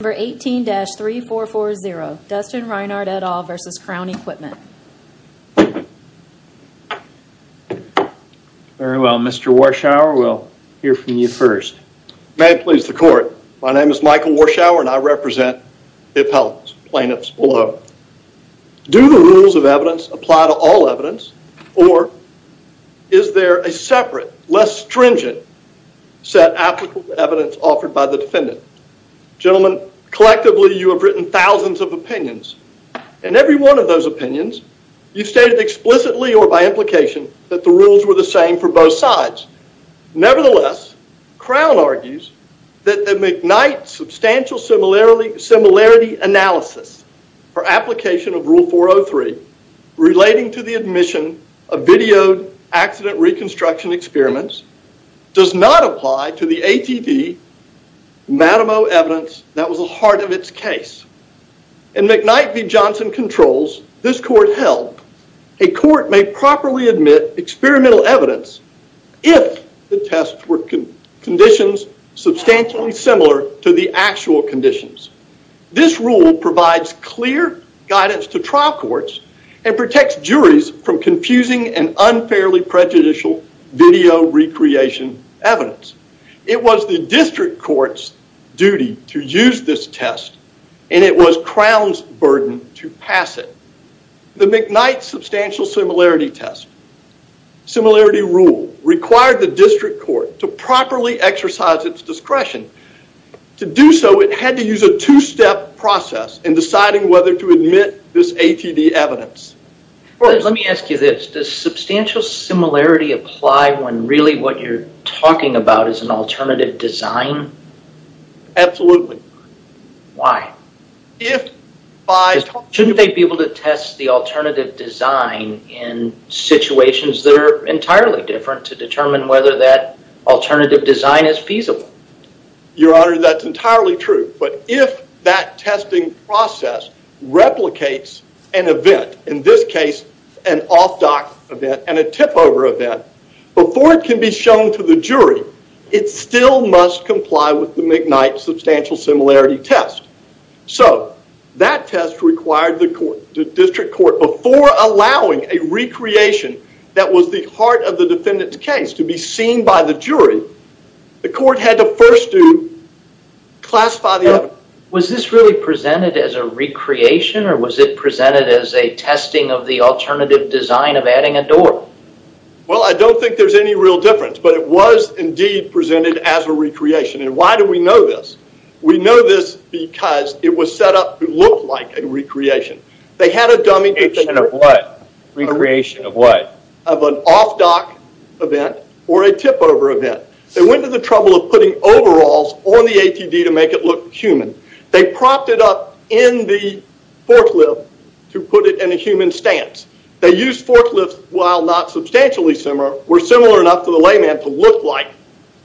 Number 18-3440, Dustin Reinhardt, et al. versus Crown Equipment. Very well, Mr. Warschauer, we'll hear from you first. May it please the court, my name is Michael Warschauer and I represent BIP Health's plaintiffs below. Do the rules of evidence apply to all evidence or is there a separate, less stringent set applicable evidence offered by the defendant? Gentlemen, collectively you have written thousands of opinions and every one of those opinions you've stated explicitly or by implication that the rules were the same for both sides. Nevertheless, Crown argues that the McKnight Substantial Similarity Analysis for application of Rule 403 relating to the admission of videoed accident reconstruction experiments does not apply to the ATV Matamoe evidence that was the heart of its case. In McKnight v. Johnson controls, this court held, a court may properly admit experimental evidence if the tests were conditions substantially similar to the actual conditions. This rule provides clear guidance to trial courts and protects juries from confusing and unfairly prejudicial video recreation evidence. It was the district court's duty to use this test and it was Crown's burden to pass it. The McKnight Substantial Similarity Test, similarity rule, required the district court to properly exercise its discretion. To do so, it had to use a two-step process in deciding whether to admit this ATV evidence. Let me ask you this. Does substantial similarity apply when really what you're talking about is an alternative design? Absolutely. Why? Shouldn't they be able to test the alternative design in situations that are entirely different to determine whether that alternative design is feasible? Your Honor, that's entirely true. If that testing process replicates an event, in this case, an off-doc event and a tip-over event, before it can be shown to the jury, it still must comply with the McKnight Substantial Similarity Test. That test required the district court, before allowing a recreation that was the heart of the case to be shown by the jury, the court had to first classify the evidence. Was this really presented as a recreation or was it presented as a testing of the alternative design of adding a door? Well, I don't think there's any real difference, but it was indeed presented as a recreation. Why do we know this? We know this because it was set up to look like a recreation. They had a dummy... Recreation of what? Recreation of what? A tip-over event. They went to the trouble of putting overalls on the ATD to make it look human. They propped it up in the forklift to put it in a human stance. They used forklifts, while not substantially similar, were similar enough to the layman to look like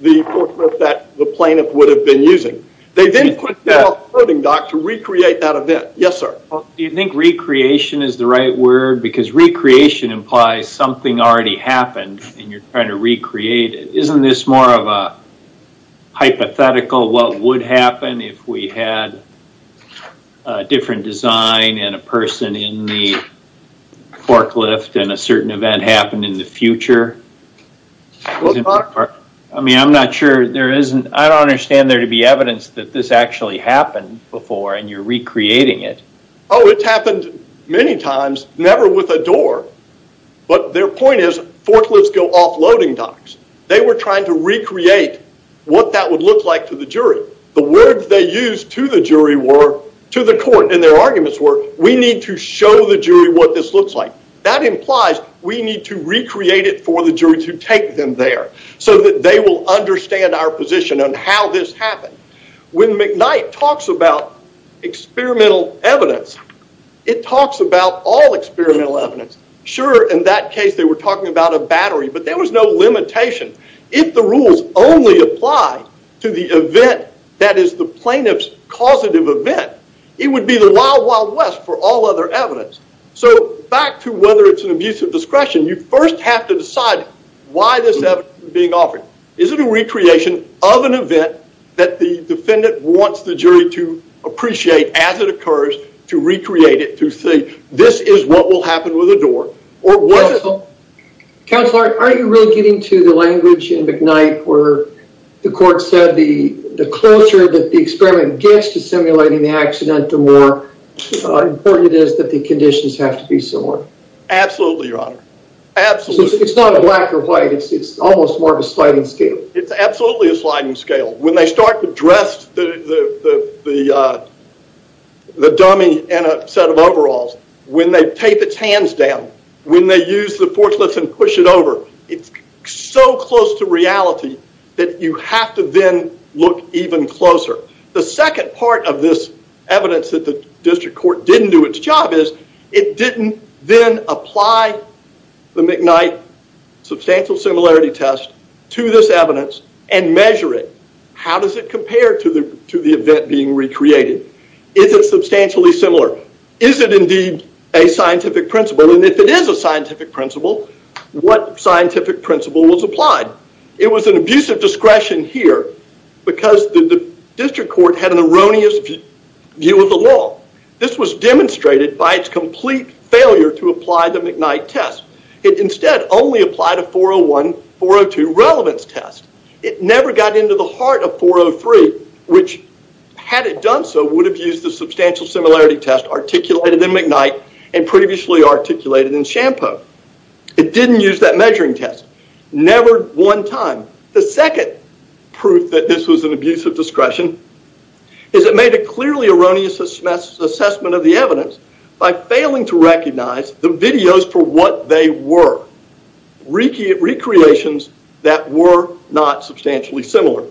the forklift that the plaintiff would have been using. They then put that off-courting, doc, to recreate that event. Yes, sir? Do you think recreation is the right word? Recreation implies something already happened and you're trying to recreate it. Isn't this more of a hypothetical what would happen if we had a different design and a person in the forklift and a certain event happened in the future? I don't understand there to be evidence that this actually happened before and you're recreating it. Oh, it's happened many times. Never with a door, but their point is forklifts go off-loading docks. They were trying to recreate what that would look like to the jury. The words they used to the jury were, to the court, and their arguments were, we need to show the jury what this looks like. That implies we need to recreate it for the jury to take them there so that they will understand our position on how this happened. When McKnight talks about experimental evidence, it talks about all experimental evidence. Sure, in that case they were talking about a battery, but there was no limitation. If the rules only apply to the event that is the plaintiff's causative event, it would be the wild, wild west for all other evidence. Back to whether it's an abuse of discretion, you first have to decide why this event is being offered. Is it a recreation of an event that the defendant wants the jury to appreciate as it occurs to recreate it to say, this is what will happen with a door, or was it? Counselor, are you really getting to the language in McKnight where the court said the closer that the experiment gets to simulating the accident, the more important it is that the conditions have to be similar? Absolutely, your honor. Absolutely. It's not a black or white, it's almost more of a sliding scale. It's absolutely a sliding scale. When they start to dress the dummy in a set of overalls, when they tape its hands down, when they use the forklifts and push it over, it's so close to reality that you have to then look even closer. The second part of this evidence that the district court didn't do its job is, it didn't then apply the McKnight substantial similarity test to this evidence and measure it. How does it compare to the event being recreated? Is it substantially similar? Is it indeed a scientific principle? If it is a scientific principle, what scientific principle was applied? It was an abuse of discretion here because the district court had an erroneous view of the law. This was demonstrated by its complete failure to apply the McKnight test. It instead only applied a 401, 402 relevance test. It never got into the heart of 403, which had it done so, would have used the substantial similarity test articulated in McKnight and previously articulated in Shampo. It didn't use that measuring test, never one time. The second proof that this was an abuse of discretion is, it made a clearly erroneous assessment of the evidence by failing to recognize the videos for what they were, recreations that were not substantially similar.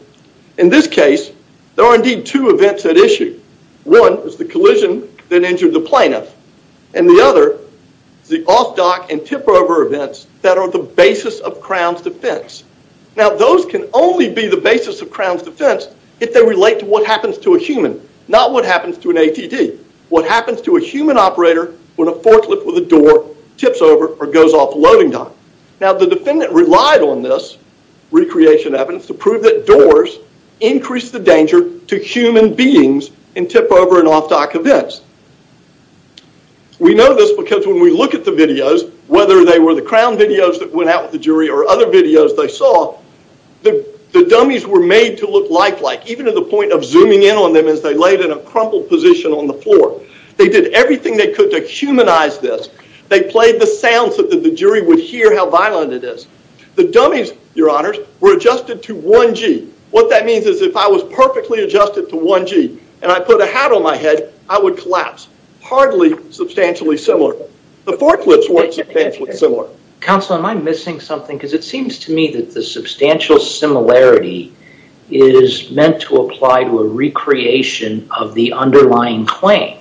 In this case, there are indeed two events at issue. One is the collision that injured the plaintiff and the other is the off dock and tip over events that are the basis of Crown's defense. Those can only be the basis of Crown's defense if they relate to what happens to a human, not what happens to an ATD, what happens to a human operator when a forklift with a door tips over or goes off loading dock. The defendant relied on this recreation evidence to prove that doors increase the danger to human beings in tip over and off dock events. We know this because when we look at the videos, whether they were the Crown videos that went out with the jury or other videos they saw, the dummies were made to look lifelike, even to the point of zooming in on them as they laid in a crumpled position on the floor. They did everything they could to humanize this. They played the sounds so that the jury would hear how violent it is. The dummies, your honors, were adjusted to 1G. What that means is if I was perfectly adjusted to 1G and I put a hat on my head, I would collapse, hardly substantially similar. The forklifts weren't substantially similar. Counselor, am I missing something because it seems to me that the substantial similarity is meant to apply to a recreation of the underlying claim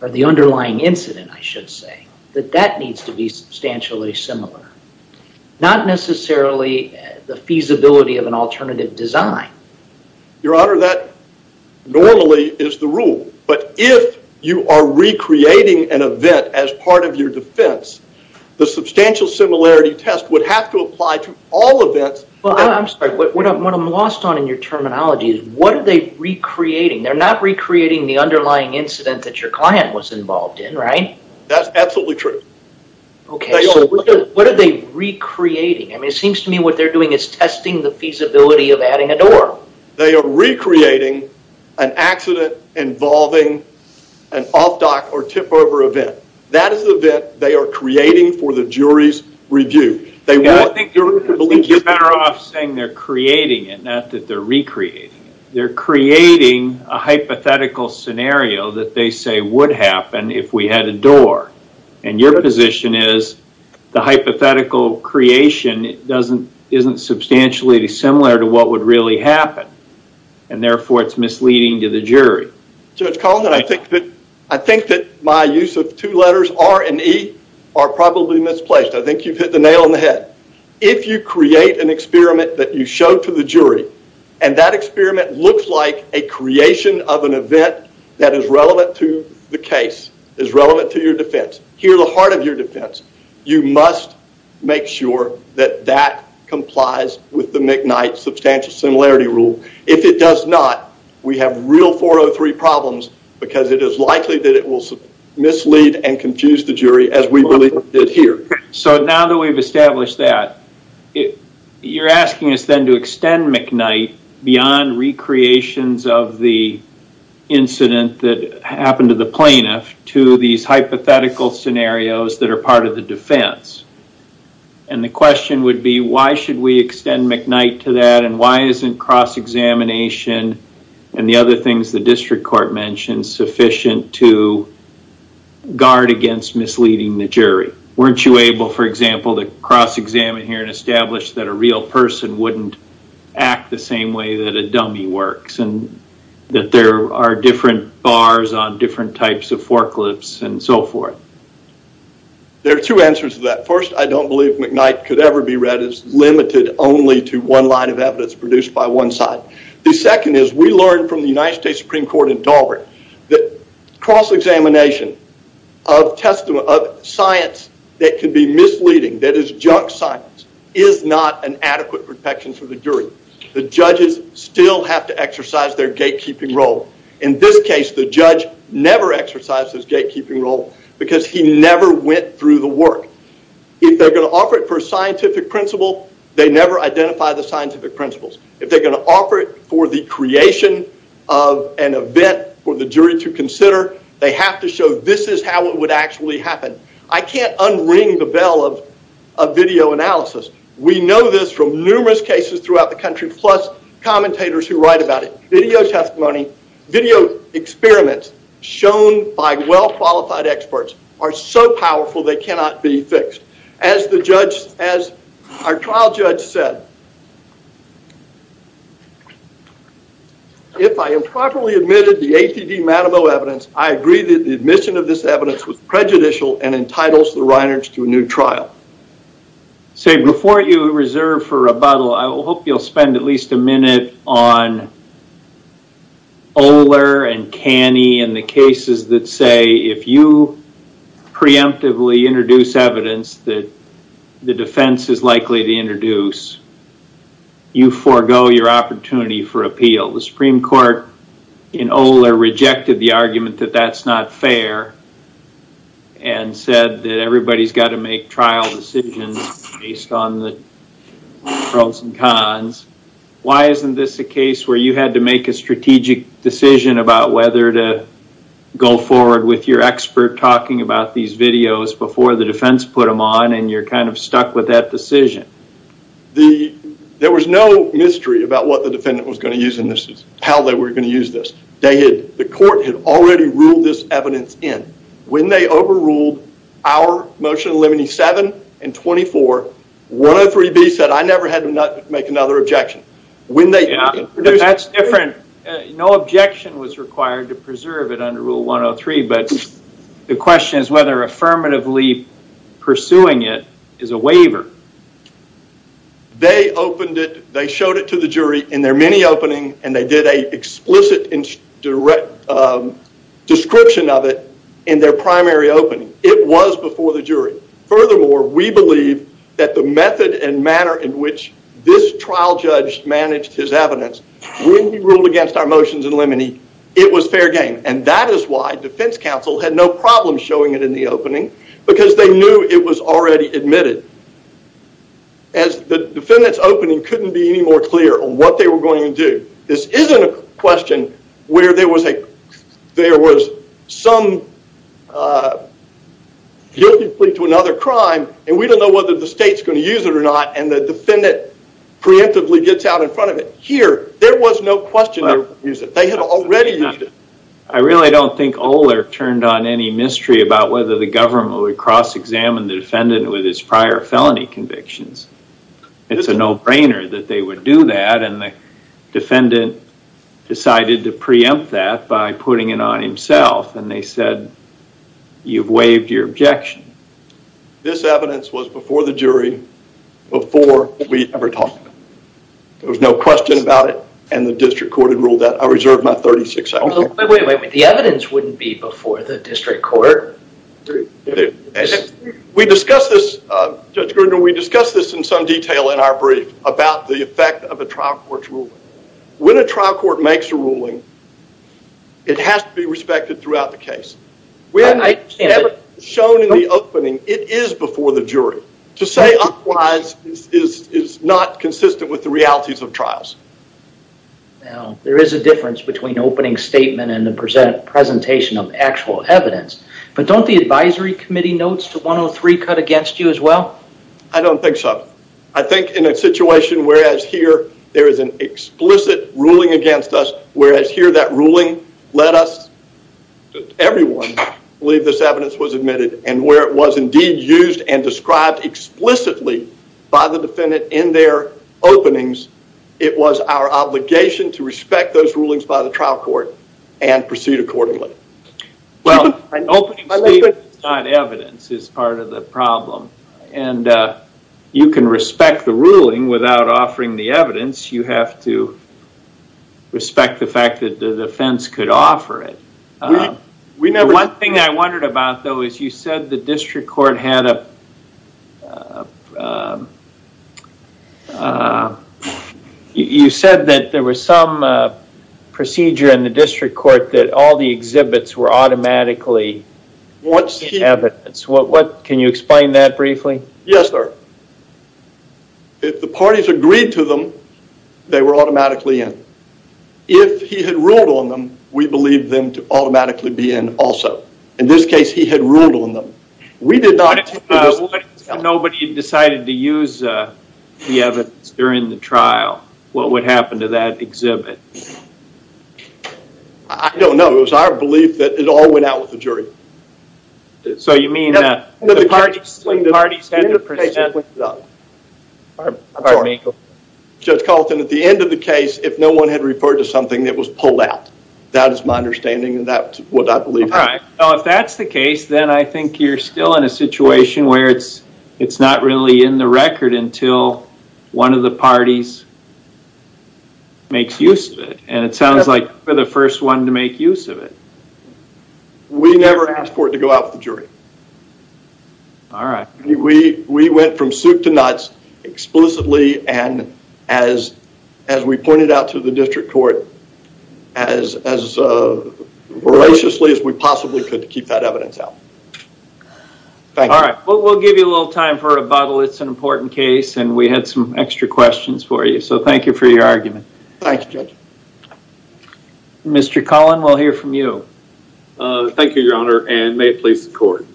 or the underlying incident, I should say, that that needs to be substantially similar. Not necessarily the feasibility of an alternative design. Your honor, that normally is the rule, but if you are recreating an event as part of your defense, the substantial similarity test would have to apply to all events. I'm sorry, what I'm lost on in your terminology is what are they recreating? They're not recreating the underlying incident that your client was involved in, right? That's absolutely true. Okay, so what are they recreating? It seems to me what they're doing is testing the feasibility of adding a door. They are recreating an accident involving an off-dock or tip-over event. That is the event they are creating for the jury's review. I think you're better off saying they're creating it, not that they're recreating it. They're creating a hypothetical scenario that they say would happen if we had a door. Your position is the hypothetical creation isn't substantially similar to what would really happen, and therefore, it's misleading to the jury. Judge Collins, I think that my use of two letters, R and E, are probably misplaced. I think you've hit the nail on the head. If you create an experiment that you show to the jury, and that experiment looks like a creation of an event that is relevant to the case, is relevant to your defense, here the heart of your defense, you must make sure that that complies with the McKnight Substantial Similarity Rule. If it does not, we have real 403 problems because it is likely that it will mislead and confuse the jury as we believe it did here. So now that we've established that, you're asking us then to extend McKnight beyond recreations of the incident that happened to the plaintiff to these hypothetical scenarios that are part of the defense. The question would be, why should we extend McKnight to that, and why isn't cross-examination and the other things the district court mentioned sufficient to guard against misleading the jury? Weren't you able, for example, to cross-examine here and establish that a real person wouldn't act the same way that a dummy works, and that there are different bars on different types of forklifts and so forth? There are two answers to that. First, I don't believe McKnight could ever be read as limited only to one line of evidence produced by one side. The second is, we learned from the United States Supreme Court in Daubert that cross-examination of science that could be misleading, that is junk science, is not an adequate protection for the jury. The judges still have to exercise their gatekeeping role. In this case, the judge never exercised his gatekeeping role because he never went through the work. If they're going to offer it for a scientific principle, they never identify the scientific principles. If they're going to offer it for the creation of an event for the jury to consider, they have to show this is how it would actually happen. I can't unring the bell of video analysis. We know this from numerous cases throughout the country, plus commentators who write about it. Video testimonies, video experiments shown by well-qualified experts are so powerful they cannot be fixed. As our trial judge said, if I improperly admitted the ATD Matamor evidence, I agree that the admission of this evidence was prejudicial and entitles the Reinerts to a new trial. Before you reserve for rebuttal, I hope you'll spend at least a minute on Oler and Canney and the cases that say if you preemptively introduce evidence that the defense is likely to introduce, you forego your opportunity for appeal. The Supreme Court in Oler rejected the argument that that's not fair and said that everybody's got to make trial decisions based on the pros and cons. Why isn't this a case where you had to make a strategic decision about whether to go forward with your expert talking about these videos before the defense put them on and you're kind of stuck with that decision? There was no mystery about what the defendant was going to use in this, how they were going to use this. The court had already ruled this evidence in. When they overruled our motion limiting 7 and 24, 103B said I never had to make another objection. Yeah, but that's different. No objection was required to preserve it under Rule 103, but the question is whether affirmatively pursuing it is a waiver. They opened it, they showed it to the jury in their mini-opening, and they did an explicit and direct description of it in their primary opening. It was before the jury. Furthermore, we believe that the method and manner in which this trial judge managed his evidence when he ruled against our motions in limine, it was fair game. That is why defense counsel had no problem showing it in the opening because they knew it was already admitted. The defendant's opening couldn't be any more clear on what they were going to do. This isn't a question where there was some guilty plea to another crime, and we don't know whether the state's going to use it or not, and the defendant preemptively gets out in front of it. Here, there was no question they would use it. They had already used it. I really don't think Oler turned on any mystery about whether the government would cross-examine the defendant with his prior felony convictions. It's a no-brainer that they would do that, and the defendant decided to preempt that by putting it on himself, and they said, you've waived your objection. This evidence was before the jury before we ever talked about it. There was no question about it, and the district court had ruled that. I reserve my 36 seconds. Wait, wait, wait. The evidence wouldn't be before the district court. We discussed this, Judge Grinder, we discussed this in some detail in our brief about the effect of a trial court's ruling. When a trial court makes a ruling, it has to be respected throughout the case. We have never shown in the opening it is before the jury. To say otherwise is not consistent with the realities of trials. Now, there is a difference between opening statement and the presentation of actual evidence, but don't the advisory committee notes to 103 cut against you as well? I don't think so. I think in a situation whereas here there is an explicit ruling against us, whereas here that ruling led us, everyone believed this evidence was admitted, and where it was indeed used and described explicitly by the defendant in their openings, it was our obligation to respect those rulings by the trial court and proceed accordingly. Well, an opening statement is not evidence is part of the problem. You can respect the ruling without offering the evidence. You have to respect the fact that the defense could offer it. One thing I wondered about, though, is you said the district court had a... You said that there was some procedure in the district court that all the exhibits were automatically evidence. Can you explain that briefly? Yes, sir. If the parties agreed to them, they were automatically in. If he had ruled on them, we believed them to automatically be in also. In this case, he had ruled on them. We did not... What if nobody had decided to use the evidence during the trial? What would happen to that exhibit? I don't know. It was our belief that it all went out with the jury. So you mean that the parties had to present... At the end of the case, it went out. Pardon me. Judge Carlton, at the end of the case, if no one had referred to something, it was pulled out. That is my understanding, and that's what I believe. All right. If that's the case, then I think you're still in a situation where it's not really in the record until one of the parties makes use of it. It sounds like you're the first one to make use of it. We never asked for it to go out with the jury. All right. We went from soup to nuts, exclusively, and as we pointed out to the district court, as voraciously as we possibly could to keep that evidence out. Thank you. All right. We'll give you a little time for rebuttal. It's an important case, and we had some extra questions for you. So thank you for your argument. Thanks, Judge. Mr. Collin, we'll hear from you. Thank you, Your Honor, and may it please the court.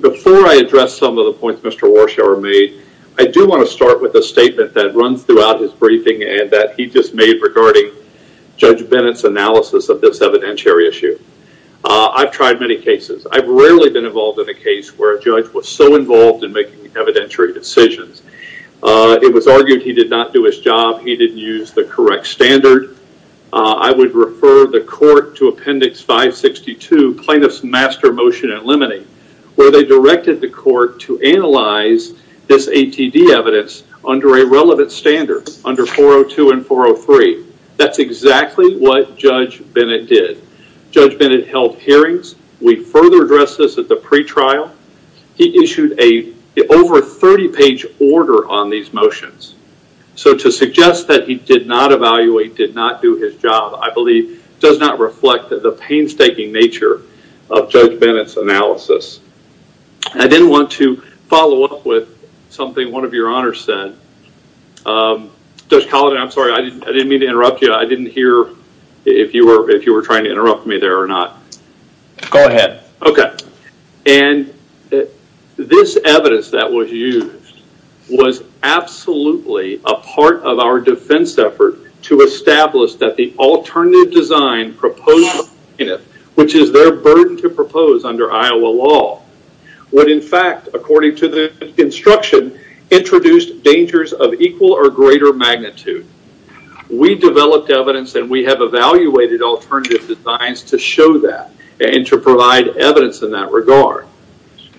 Before I address some of the points Mr. Warshower made, I do want to start with a statement that runs throughout his briefing and that he just made regarding Judge Bennett's analysis of this evidentiary issue. I've tried many cases. I've rarely been involved in a case where a judge was so involved in making evidentiary decisions. It was argued he did not do his job, he didn't use the correct standard. I would refer the court to Appendix 562, Plaintiff's Master Motion and Limiting, where they directed the court to analyze this ATD evidence under a relevant standard, under 402 and 403. That's exactly what Judge Bennett did. Judge Bennett held hearings. We further addressed this at the pretrial. He issued an over 30-page order on these motions. To suggest that he did not evaluate, did not do his job, I believe does not reflect the painstaking nature of Judge Bennett's analysis. I then want to follow up with something one of your honors said. Judge Collin, I'm sorry, I didn't mean to interrupt you. I didn't hear if you were trying to interrupt me there or not. Go ahead. Okay. This evidence that was used was absolutely a part of our defense effort to establish that the alternative design proposed by the plaintiff, which is their burden to propose under Iowa law, would in fact, according to the instruction, introduce dangers of equal or greater magnitude. We developed evidence and we have evaluated alternative designs to show that and to provide evidence in that regard.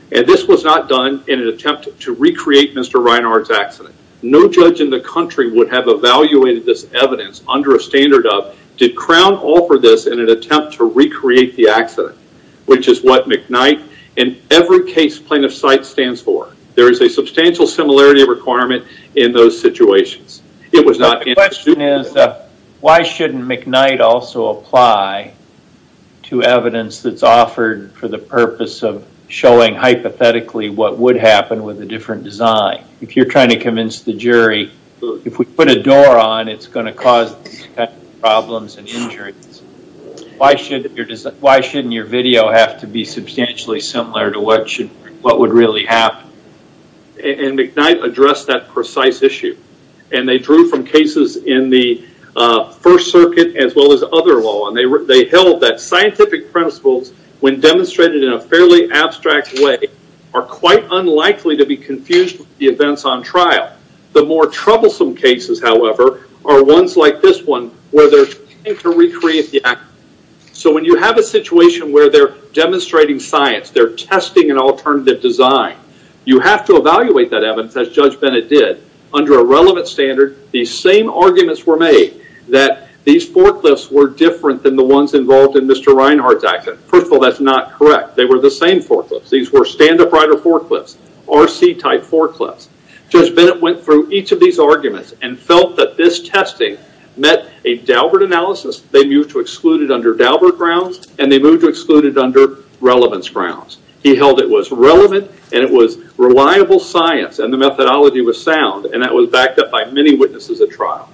This was not done in an attempt to recreate Mr. Reinhardt's accident. No judge in the country would have evaluated this evidence under a standard of, did Crown offer this in an attempt to recreate the accident, which is what McKnight and every case plaintiff cites stands for. There is a substantial similarity requirement in those situations. It was not- The question is, why shouldn't McKnight also apply to evidence that's offered for the purpose of showing hypothetically what would happen with a different design? If you're trying to convince the jury, if we put a door on it, it's going to cause problems and injuries. Why shouldn't your video have to be substantially similar to what would really happen? McKnight addressed that precise issue. They drew from cases in the First Circuit as well as other law. They held that scientific principles, when demonstrated in a fairly abstract way, are quite unlikely to be confused with the events on trial. The more troublesome cases, however, are ones like this one where they're trying to recreate the accident. When you have a situation where they're demonstrating science, they're testing an alternative design, you have to evaluate that evidence, as Judge Bennett did, under a relevant standard. These same arguments were made that these forklifts were different than the ones involved in Mr. Reinhardt's accident. First of all, that's not correct. They were the same forklifts. These were stand-up rider forklifts, RC-type forklifts. Judge Bennett went through each of these arguments and felt that this testing met a Daubert analysis. They moved to exclude it under Daubert grounds, and they moved to exclude it under relevance grounds. He held it was relevant, and it was reliable science, and the methodology was sound, and that was backed up by many witnesses at trial.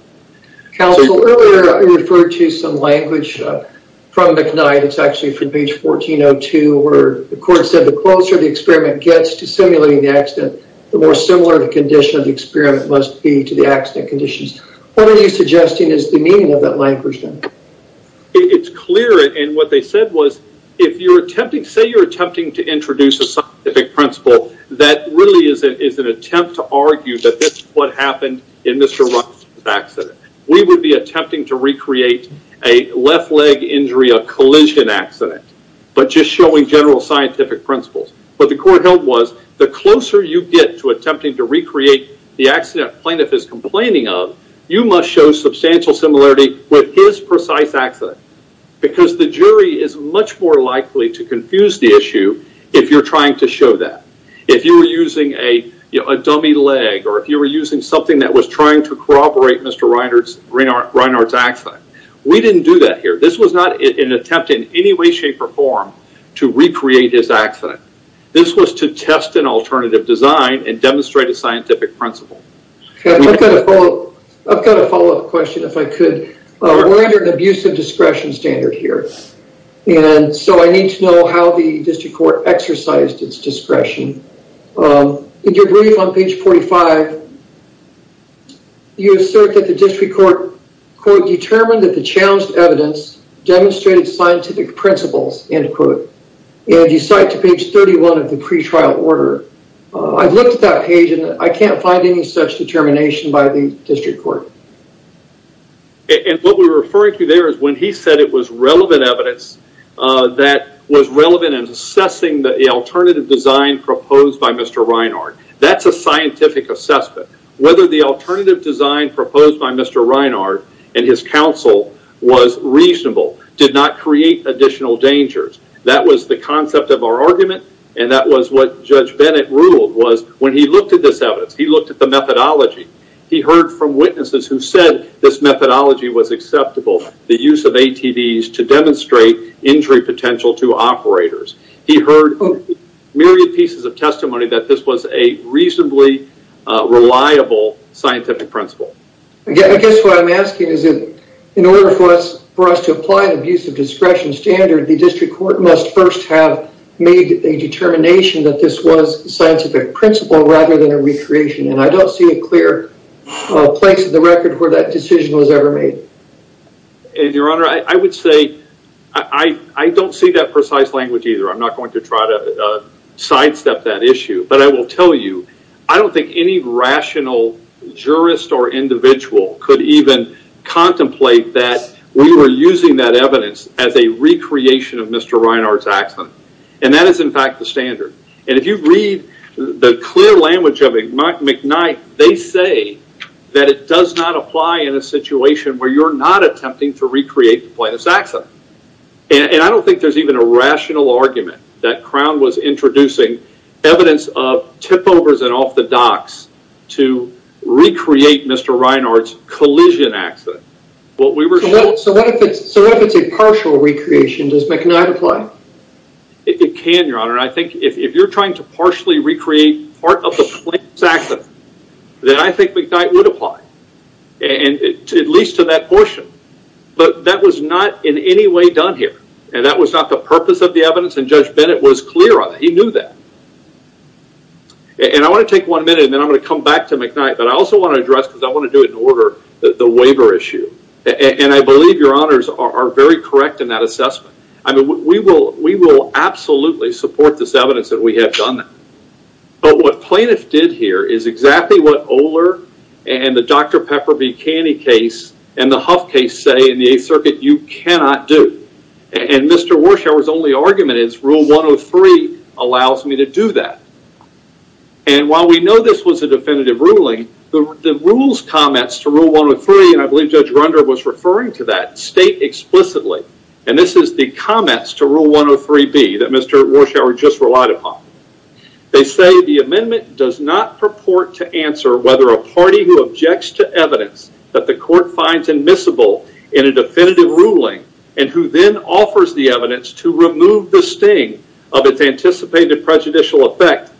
Counsel, earlier I referred to some language from McKnight. It's actually from page 1402, where the court said, the closer the experiment gets to simulating the accident, the more similar the condition of the experiment must be to the accident conditions. What are you suggesting is the meaning of that language then? It's clear, and what they said was, if you're attempting, say you're attempting to introduce a scientific principle, that really is an attempt to argue that this is what happened in Mr. Reinhardt's accident. We would be attempting to recreate a left leg injury, a collision accident, but just showing general scientific principles. What the court held was, the closer you get to attempting to recreate the accident plaintiff is complaining of, you must show substantial similarity with his precise accident, because the jury is much more likely to confuse the issue if you're trying to show that. If you were using a dummy leg, or if you were using something that was trying to corroborate Mr. Reinhardt's accident. We didn't do that here. This was not an attempt in any way, shape, or form to recreate his accident. This was to test an alternative design and demonstrate a scientific principle. I've got a follow-up question if I could. We're under an abusive discretion standard here, and so I need to know how the district court exercised its discretion. In your brief on page 45, you assert that the district court, quote, determined that the challenged evidence demonstrated scientific principles, end quote, and you cite to page 31 of the pretrial order. I've looked at that page, and I can't find any such determination by the district court. What we're referring to there is when he said it was relevant evidence that was relevant in assessing the alternative design proposed by Mr. Reinhardt. That's a scientific assessment. Whether the alternative design proposed by Mr. Reinhardt and his counsel was reasonable did not create additional dangers. That was the concept of our argument, and that was what Judge Bennett ruled was when he looked at this evidence, he looked at the methodology, he heard from witnesses who said this methodology was acceptable, the use of ATVs to demonstrate injury potential to operators. He heard myriad pieces of testimony that this was a reasonably reliable scientific principle. I guess what I'm asking is in order for us to apply the abuse of discretion standard, the district court must first have made a determination that this was a scientific principle rather than a recreation, and I don't see a clear place in the record where that decision was ever made. Your Honor, I would say I don't see that precise language either. I'm not going to try to sidestep that issue, but I will tell you, I don't think any rational jurist or individual could even contemplate that we were using that evidence as a recreation of Mr. Reinhardt's accident, and that is in fact the standard. If you read the clear language of McKnight, they say that it does not apply in a situation where you're not attempting to recreate the plane of accident. I don't think there's even a rational argument that Crown was introducing evidence of tip-overs and off-the-docks to recreate Mr. Reinhardt's collision accident. What we were... So what if it's a partial recreation? Does McKnight apply? It can, Your Honor. I think if you're trying to partially recreate part of the plane's accident, then I think McKnight would apply, at least to that portion, but that was not in any way done here, and that was not the purpose of the evidence, and Judge Bennett was clear on that. He knew that. I want to take one minute, and then I'm going to come back to McKnight, but I also want to address, because I want to do it in order, the waiver issue, and I believe Your Honors are very correct in that assessment. We will absolutely support this evidence that we have done that, but what plaintiffs did here is exactly what Oler and the Dr. Pepper B. Caney case and the Huff case say in the Eighth Circuit, you cannot do, and Mr. Warshower's only argument is Rule 103 allows me to do that, and while we know this was a definitive ruling, the rules comments to Rule 103, and I believe Judge Grunder was referring to that, state explicitly, and this is the comments to Rule 103B that Mr. Warshower just relied upon. They say the amendment does not purport to answer whether a party who objects to evidence that the court finds admissible in a definitive ruling and who then offers the evidence to effect,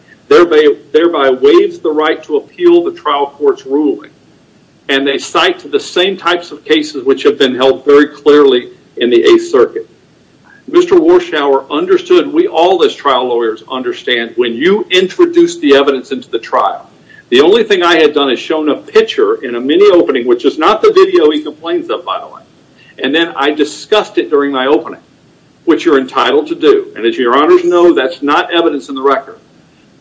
thereby waives the right to appeal the trial court's ruling, and they cite to the same types of cases which have been held very clearly in the Eighth Circuit. Mr. Warshower understood, we all as trial lawyers understand, when you introduce the evidence into the trial. The only thing I had done is shown a picture in a mini opening, which is not the video he complains of, by the way, and then I discussed it during my opening, which you're entitled to do, and as your honors know, that's not evidence in the record.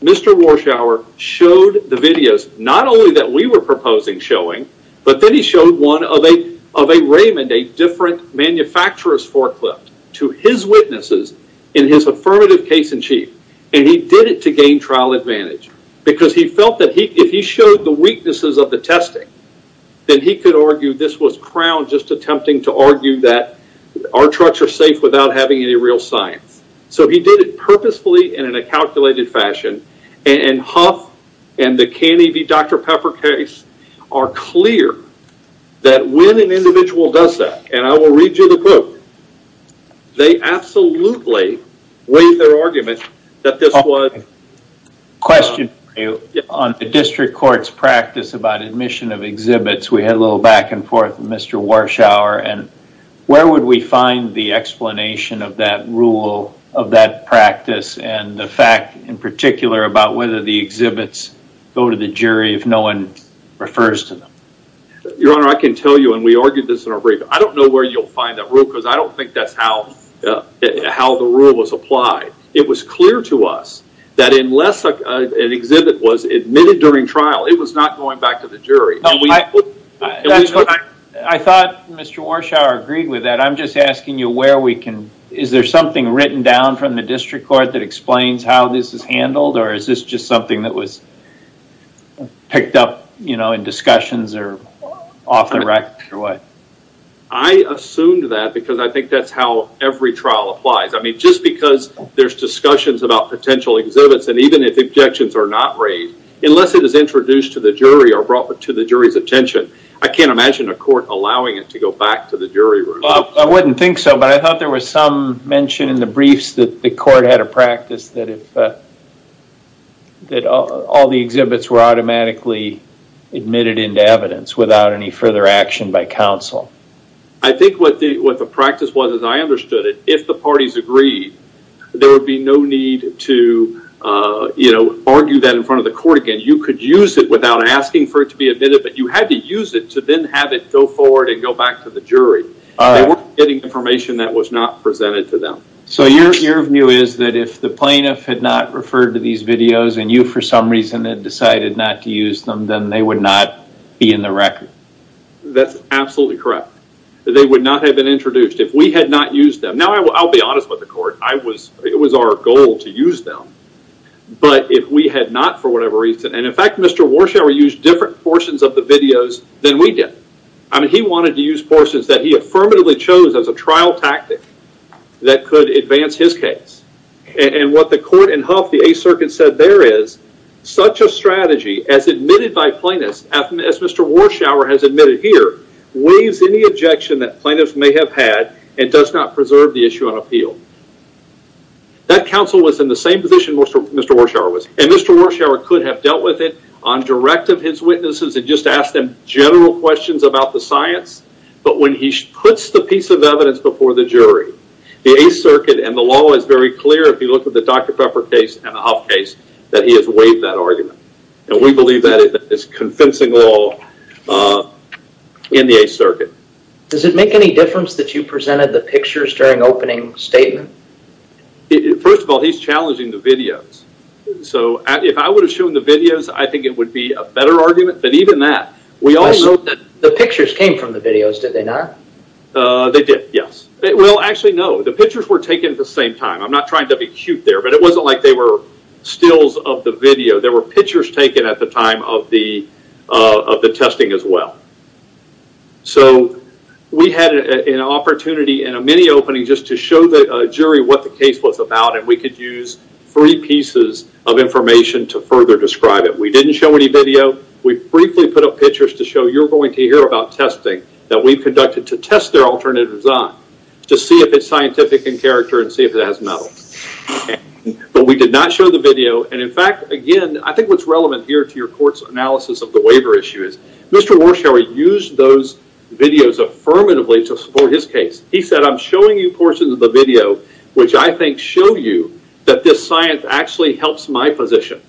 Mr. Warshower showed the videos, not only that we were proposing showing, but then he showed one of a Raymond, a different manufacturer's forklift, to his witnesses in his affirmative case in chief, and he did it to gain trial advantage, because he felt that if he showed the weaknesses of the testing, then he could argue this was crowned just attempting to So he did it purposefully and in a calculated fashion, and Huff and the K&E v. Dr. Pepper case are clear that when an individual does that, and I will read you the quote, they absolutely waived their argument that this was- Question for you on the district court's practice about admission of exhibits. We had a little back and forth with Mr. Warshower, and where would we find the explanation of that rule, of that practice, and the fact in particular about whether the exhibits go to the jury if no one refers to them? Your honor, I can tell you, and we argued this in our brief, I don't know where you'll find that rule, because I don't think that's how the rule was applied. It was clear to us that unless an exhibit was admitted during trial, it was not going back to the jury. I thought Mr. Warshower agreed with that. I'm just asking you where we can, is there something written down from the district court that explains how this is handled, or is this just something that was picked up in discussions or off the rack? I assumed that because I think that's how every trial applies. Just because there's discussions about potential exhibits, and even if objections are not raised, unless it is introduced to the jury or brought to the jury's attention, I can't imagine a court allowing it to go back to the jury room. I wouldn't think so, but I thought there was some mention in the briefs that the court had a practice that all the exhibits were automatically admitted into evidence without any further action by counsel. I think what the practice was, as I understood it, if the parties agreed, there would be no need to argue that in front of the court again. You could use it without asking for it to be admitted, but you had to use it to then have it go forward and go back to the jury. They weren't getting information that was not presented to them. Your view is that if the plaintiff had not referred to these videos, and you for some reason had decided not to use them, then they would not be in the record? That's absolutely correct. They would not have been introduced if we had not used them. I'll be honest with the court. It was our goal to use them, but if we had not for whatever reason, and in fact, Mr. Warshower used different portions of the videos than we did. He wanted to use portions that he affirmatively chose as a trial tactic that could advance his case. What the court in Huff, the Eighth Circuit said there is, such a strategy as admitted by plaintiffs, as Mr. Warshower has admitted here, waives any objection that plaintiffs may have had and does not preserve the issue on appeal. That counsel was in the same position Mr. Warshower was, and Mr. Warshower could have dealt with it on direct of his witnesses and just ask them general questions about the science, but when he puts the piece of evidence before the jury, the Eighth Circuit and the law is very clear if you look at the Dr. Pepper case and the Huff case, that he has waived that argument. We believe that is convincing law in the Eighth Circuit. Does it make any difference that you presented the pictures during opening statement? First of all, he's challenging the videos. If I would have shown the videos, I think it would be a better argument, but even that, we also- The pictures came from the videos, did they not? They did. Yes. Well, actually, no. The pictures were taken at the same time. I'm not trying to be cute there, but it wasn't like they were stills of the video. There were pictures taken at the time of the testing as well. So, we had an opportunity in a mini opening just to show the jury what the case was about and we could use three pieces of information to further describe it. We didn't show any video. We briefly put up pictures to show you're going to hear about testing that we've conducted to test their alternatives on, to see if it's scientific in character and see if it has metal, but we did not show the video and in fact, again, I think what's relevant here to your court's analysis of the waiver issue is Mr. Warshower used those videos affirmatively to support his case. He said, I'm showing you portions of the video which I think show you that this science actually helps my position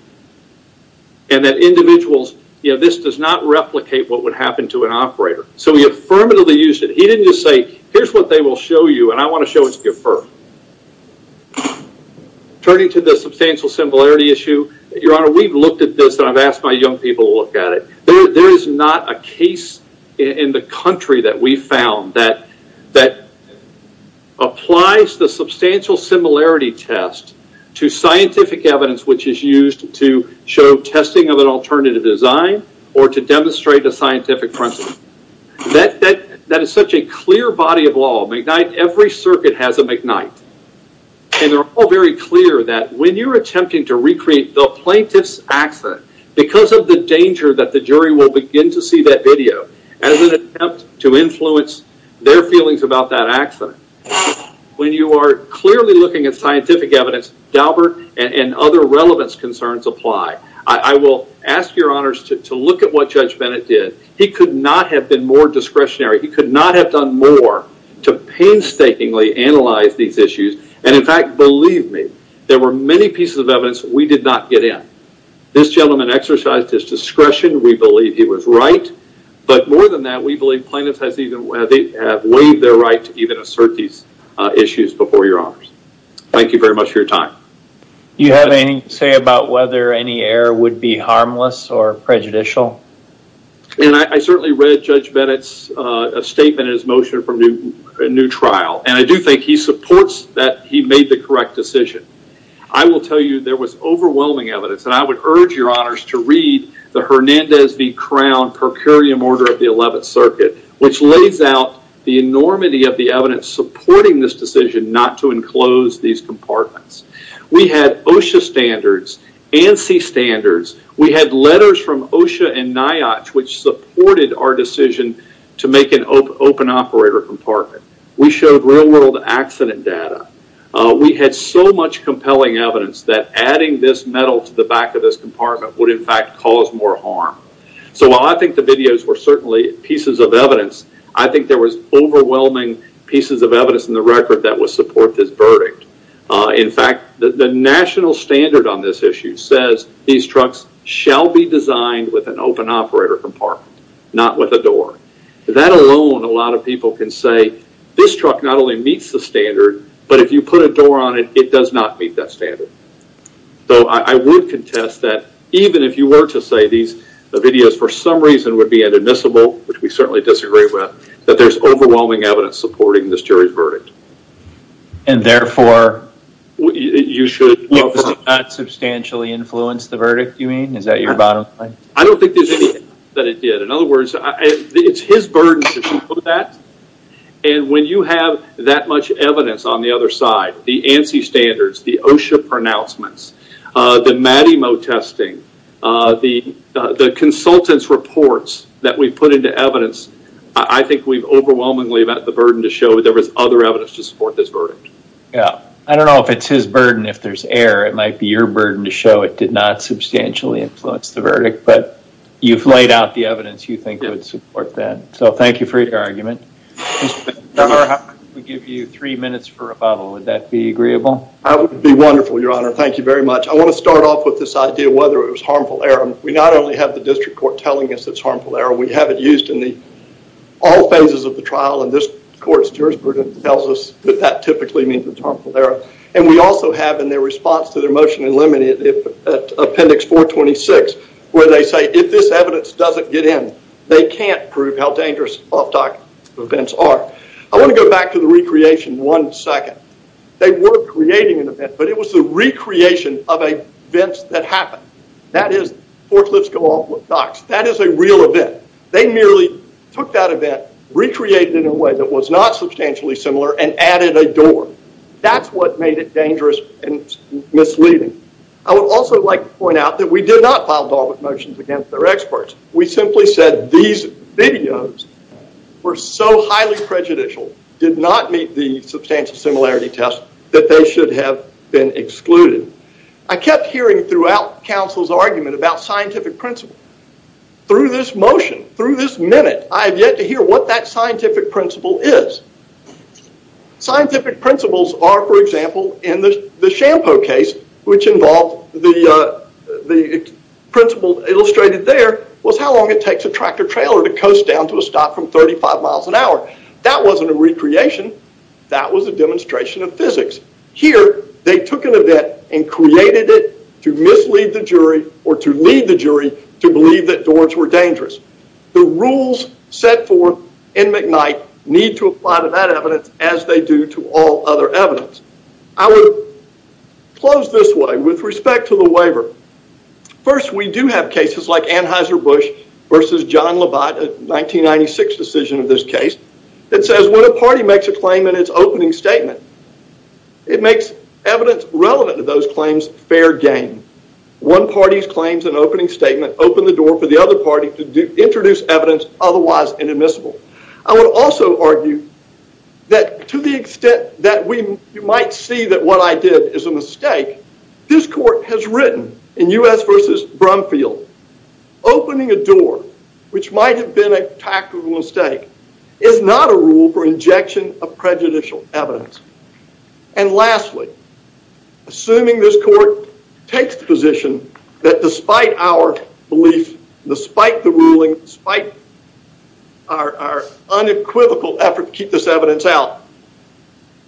and that individuals, this does not replicate what would happen to an operator. So, he affirmatively used it. He didn't just say, here's what they will show you and I want to show it to you first. Turning to the substantial similarity issue, your honor, we've looked at this and I've asked my young people to look at it. There is not a case in the country that we found that applies the substantial similarity test to scientific evidence which is used to show testing of an alternative design or to demonstrate a scientific principle. That is such a clear body of law. Every circuit has a McKnight and they're all very clear that when you're attempting to recreate the plaintiff's accident, because of the danger that the jury will begin to see that video as an attempt to influence their feelings about that accident, when you are clearly looking at scientific evidence, Daubert and other relevance concerns apply. I will ask your honors to look at what Judge Bennett did. He could not have been more discretionary. He could not have done more to painstakingly analyze these issues and in fact, believe me, there were many pieces of evidence we did not get in. This gentleman exercised his discretion. We believe he was right, but more than that, we believe plaintiffs have waived their right to even assert these issues before your honors. Thank you very much for your time. You have anything to say about whether any error would be harmless or prejudicial? I certainly read Judge Bennett's statement in his motion for a new trial and I do think he supports that he made the correct decision. I will tell you there was overwhelming evidence and I would urge your honors to read the Hernandez v. Crown per curiam order of the 11th circuit, which lays out the enormity of the evidence supporting this decision not to enclose these compartments. We had OSHA standards, ANSI standards. We had letters from OSHA and NIOSH which supported our decision to make an open operator compartment. We showed real world accident data. We had so much compelling evidence that adding this metal to the back of this compartment would in fact cause more harm. While I think the videos were certainly pieces of evidence, I think there was overwhelming In fact, the national standard on this issue says these trucks shall be designed with an open operator compartment, not with a door. That alone a lot of people can say, this truck not only meets the standard, but if you put a door on it, it does not meet that standard. Though I would contest that even if you were to say these videos for some reason would be inadmissible, which we certainly disagree with, that there's overwhelming evidence supporting this jury's verdict. Therefore, you should not substantially influence the verdict, you mean? Is that your bottom line? I don't think there's anything that it did. In other words, it's his burden to put that and when you have that much evidence on the other side, the ANSI standards, the OSHA pronouncements, the Matymo testing, the consultant's reports that we put into evidence, I think we've overwhelmingly about the burden to show there is other evidence to support this verdict. I don't know if it's his burden, if there's error, it might be your burden to show it did not substantially influence the verdict, but you've laid out the evidence you think would support that. Thank you for your argument. Mr. Baker, if I could give you three minutes for rebuttal, would that be agreeable? That would be wonderful, your honor. Thank you very much. I want to start off with this idea of whether it was harmful error. We not only have the district court telling us it's harmful error, we have it used in the all phases of the trial and this court's jurisprudence tells us that that typically means it's harmful error, and we also have in their response to their motion in limited appendix 426 where they say if this evidence doesn't get in, they can't prove how dangerous off-doc events are. I want to go back to the recreation one second. They were creating an event, but it was the recreation of events that happened. That is forklifts go off with docks. That is a real event. They merely took that event, recreated it in a way that was not substantially similar, and added a door. That's what made it dangerous and misleading. I would also like to point out that we did not file Dalvik motions against their experts. We simply said these videos were so highly prejudicial, did not meet the substantial similarity test, that they should have been excluded. I kept hearing throughout counsel's argument about scientific principle. Through this motion, through this minute, I have yet to hear what that scientific principle is. Scientific principles are, for example, in the Shampo case, which involved the principle illustrated there was how long it takes a tractor-trailer to coast down to a stop from 35 miles an hour. That wasn't a recreation. That was a demonstration of physics. Here, they took an event and created it to mislead the jury or to lead the jury to believe that doors were dangerous. The rules set forth in McKnight need to apply to that evidence as they do to all other evidence. I would close this way with respect to the waiver. First, we do have cases like Anheuser-Busch versus John Labatt, a 1996 decision of this It makes evidence relevant to those claims fair game. One party's claims and opening statement open the door for the other party to introduce evidence otherwise inadmissible. I would also argue that to the extent that we might see that what I did is a mistake, this court has written in U.S. versus Brumfield, opening a door which might have been a tactical mistake is not a rule for injection of prejudicial evidence. And lastly, assuming this court takes the position that despite our belief, despite the ruling, despite our unequivocal effort to keep this evidence out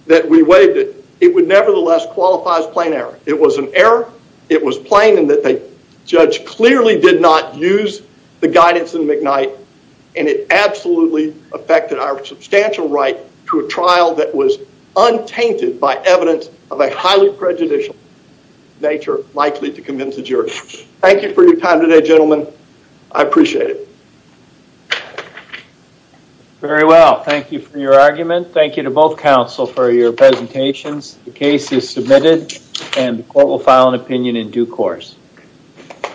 that we waived it, it would nevertheless qualify as plain error. It was an error. It was plain in that the judge clearly did not use the guidance in McKnight and it absolutely affected our substantial right to a trial that was untainted by evidence of a highly prejudicial nature likely to convince the jury. Thank you for your time today, gentlemen. I appreciate it. Very well. Thank you for your argument. Thank you to both counsel for your presentations. The case is submitted and the court will file an opinion in due course.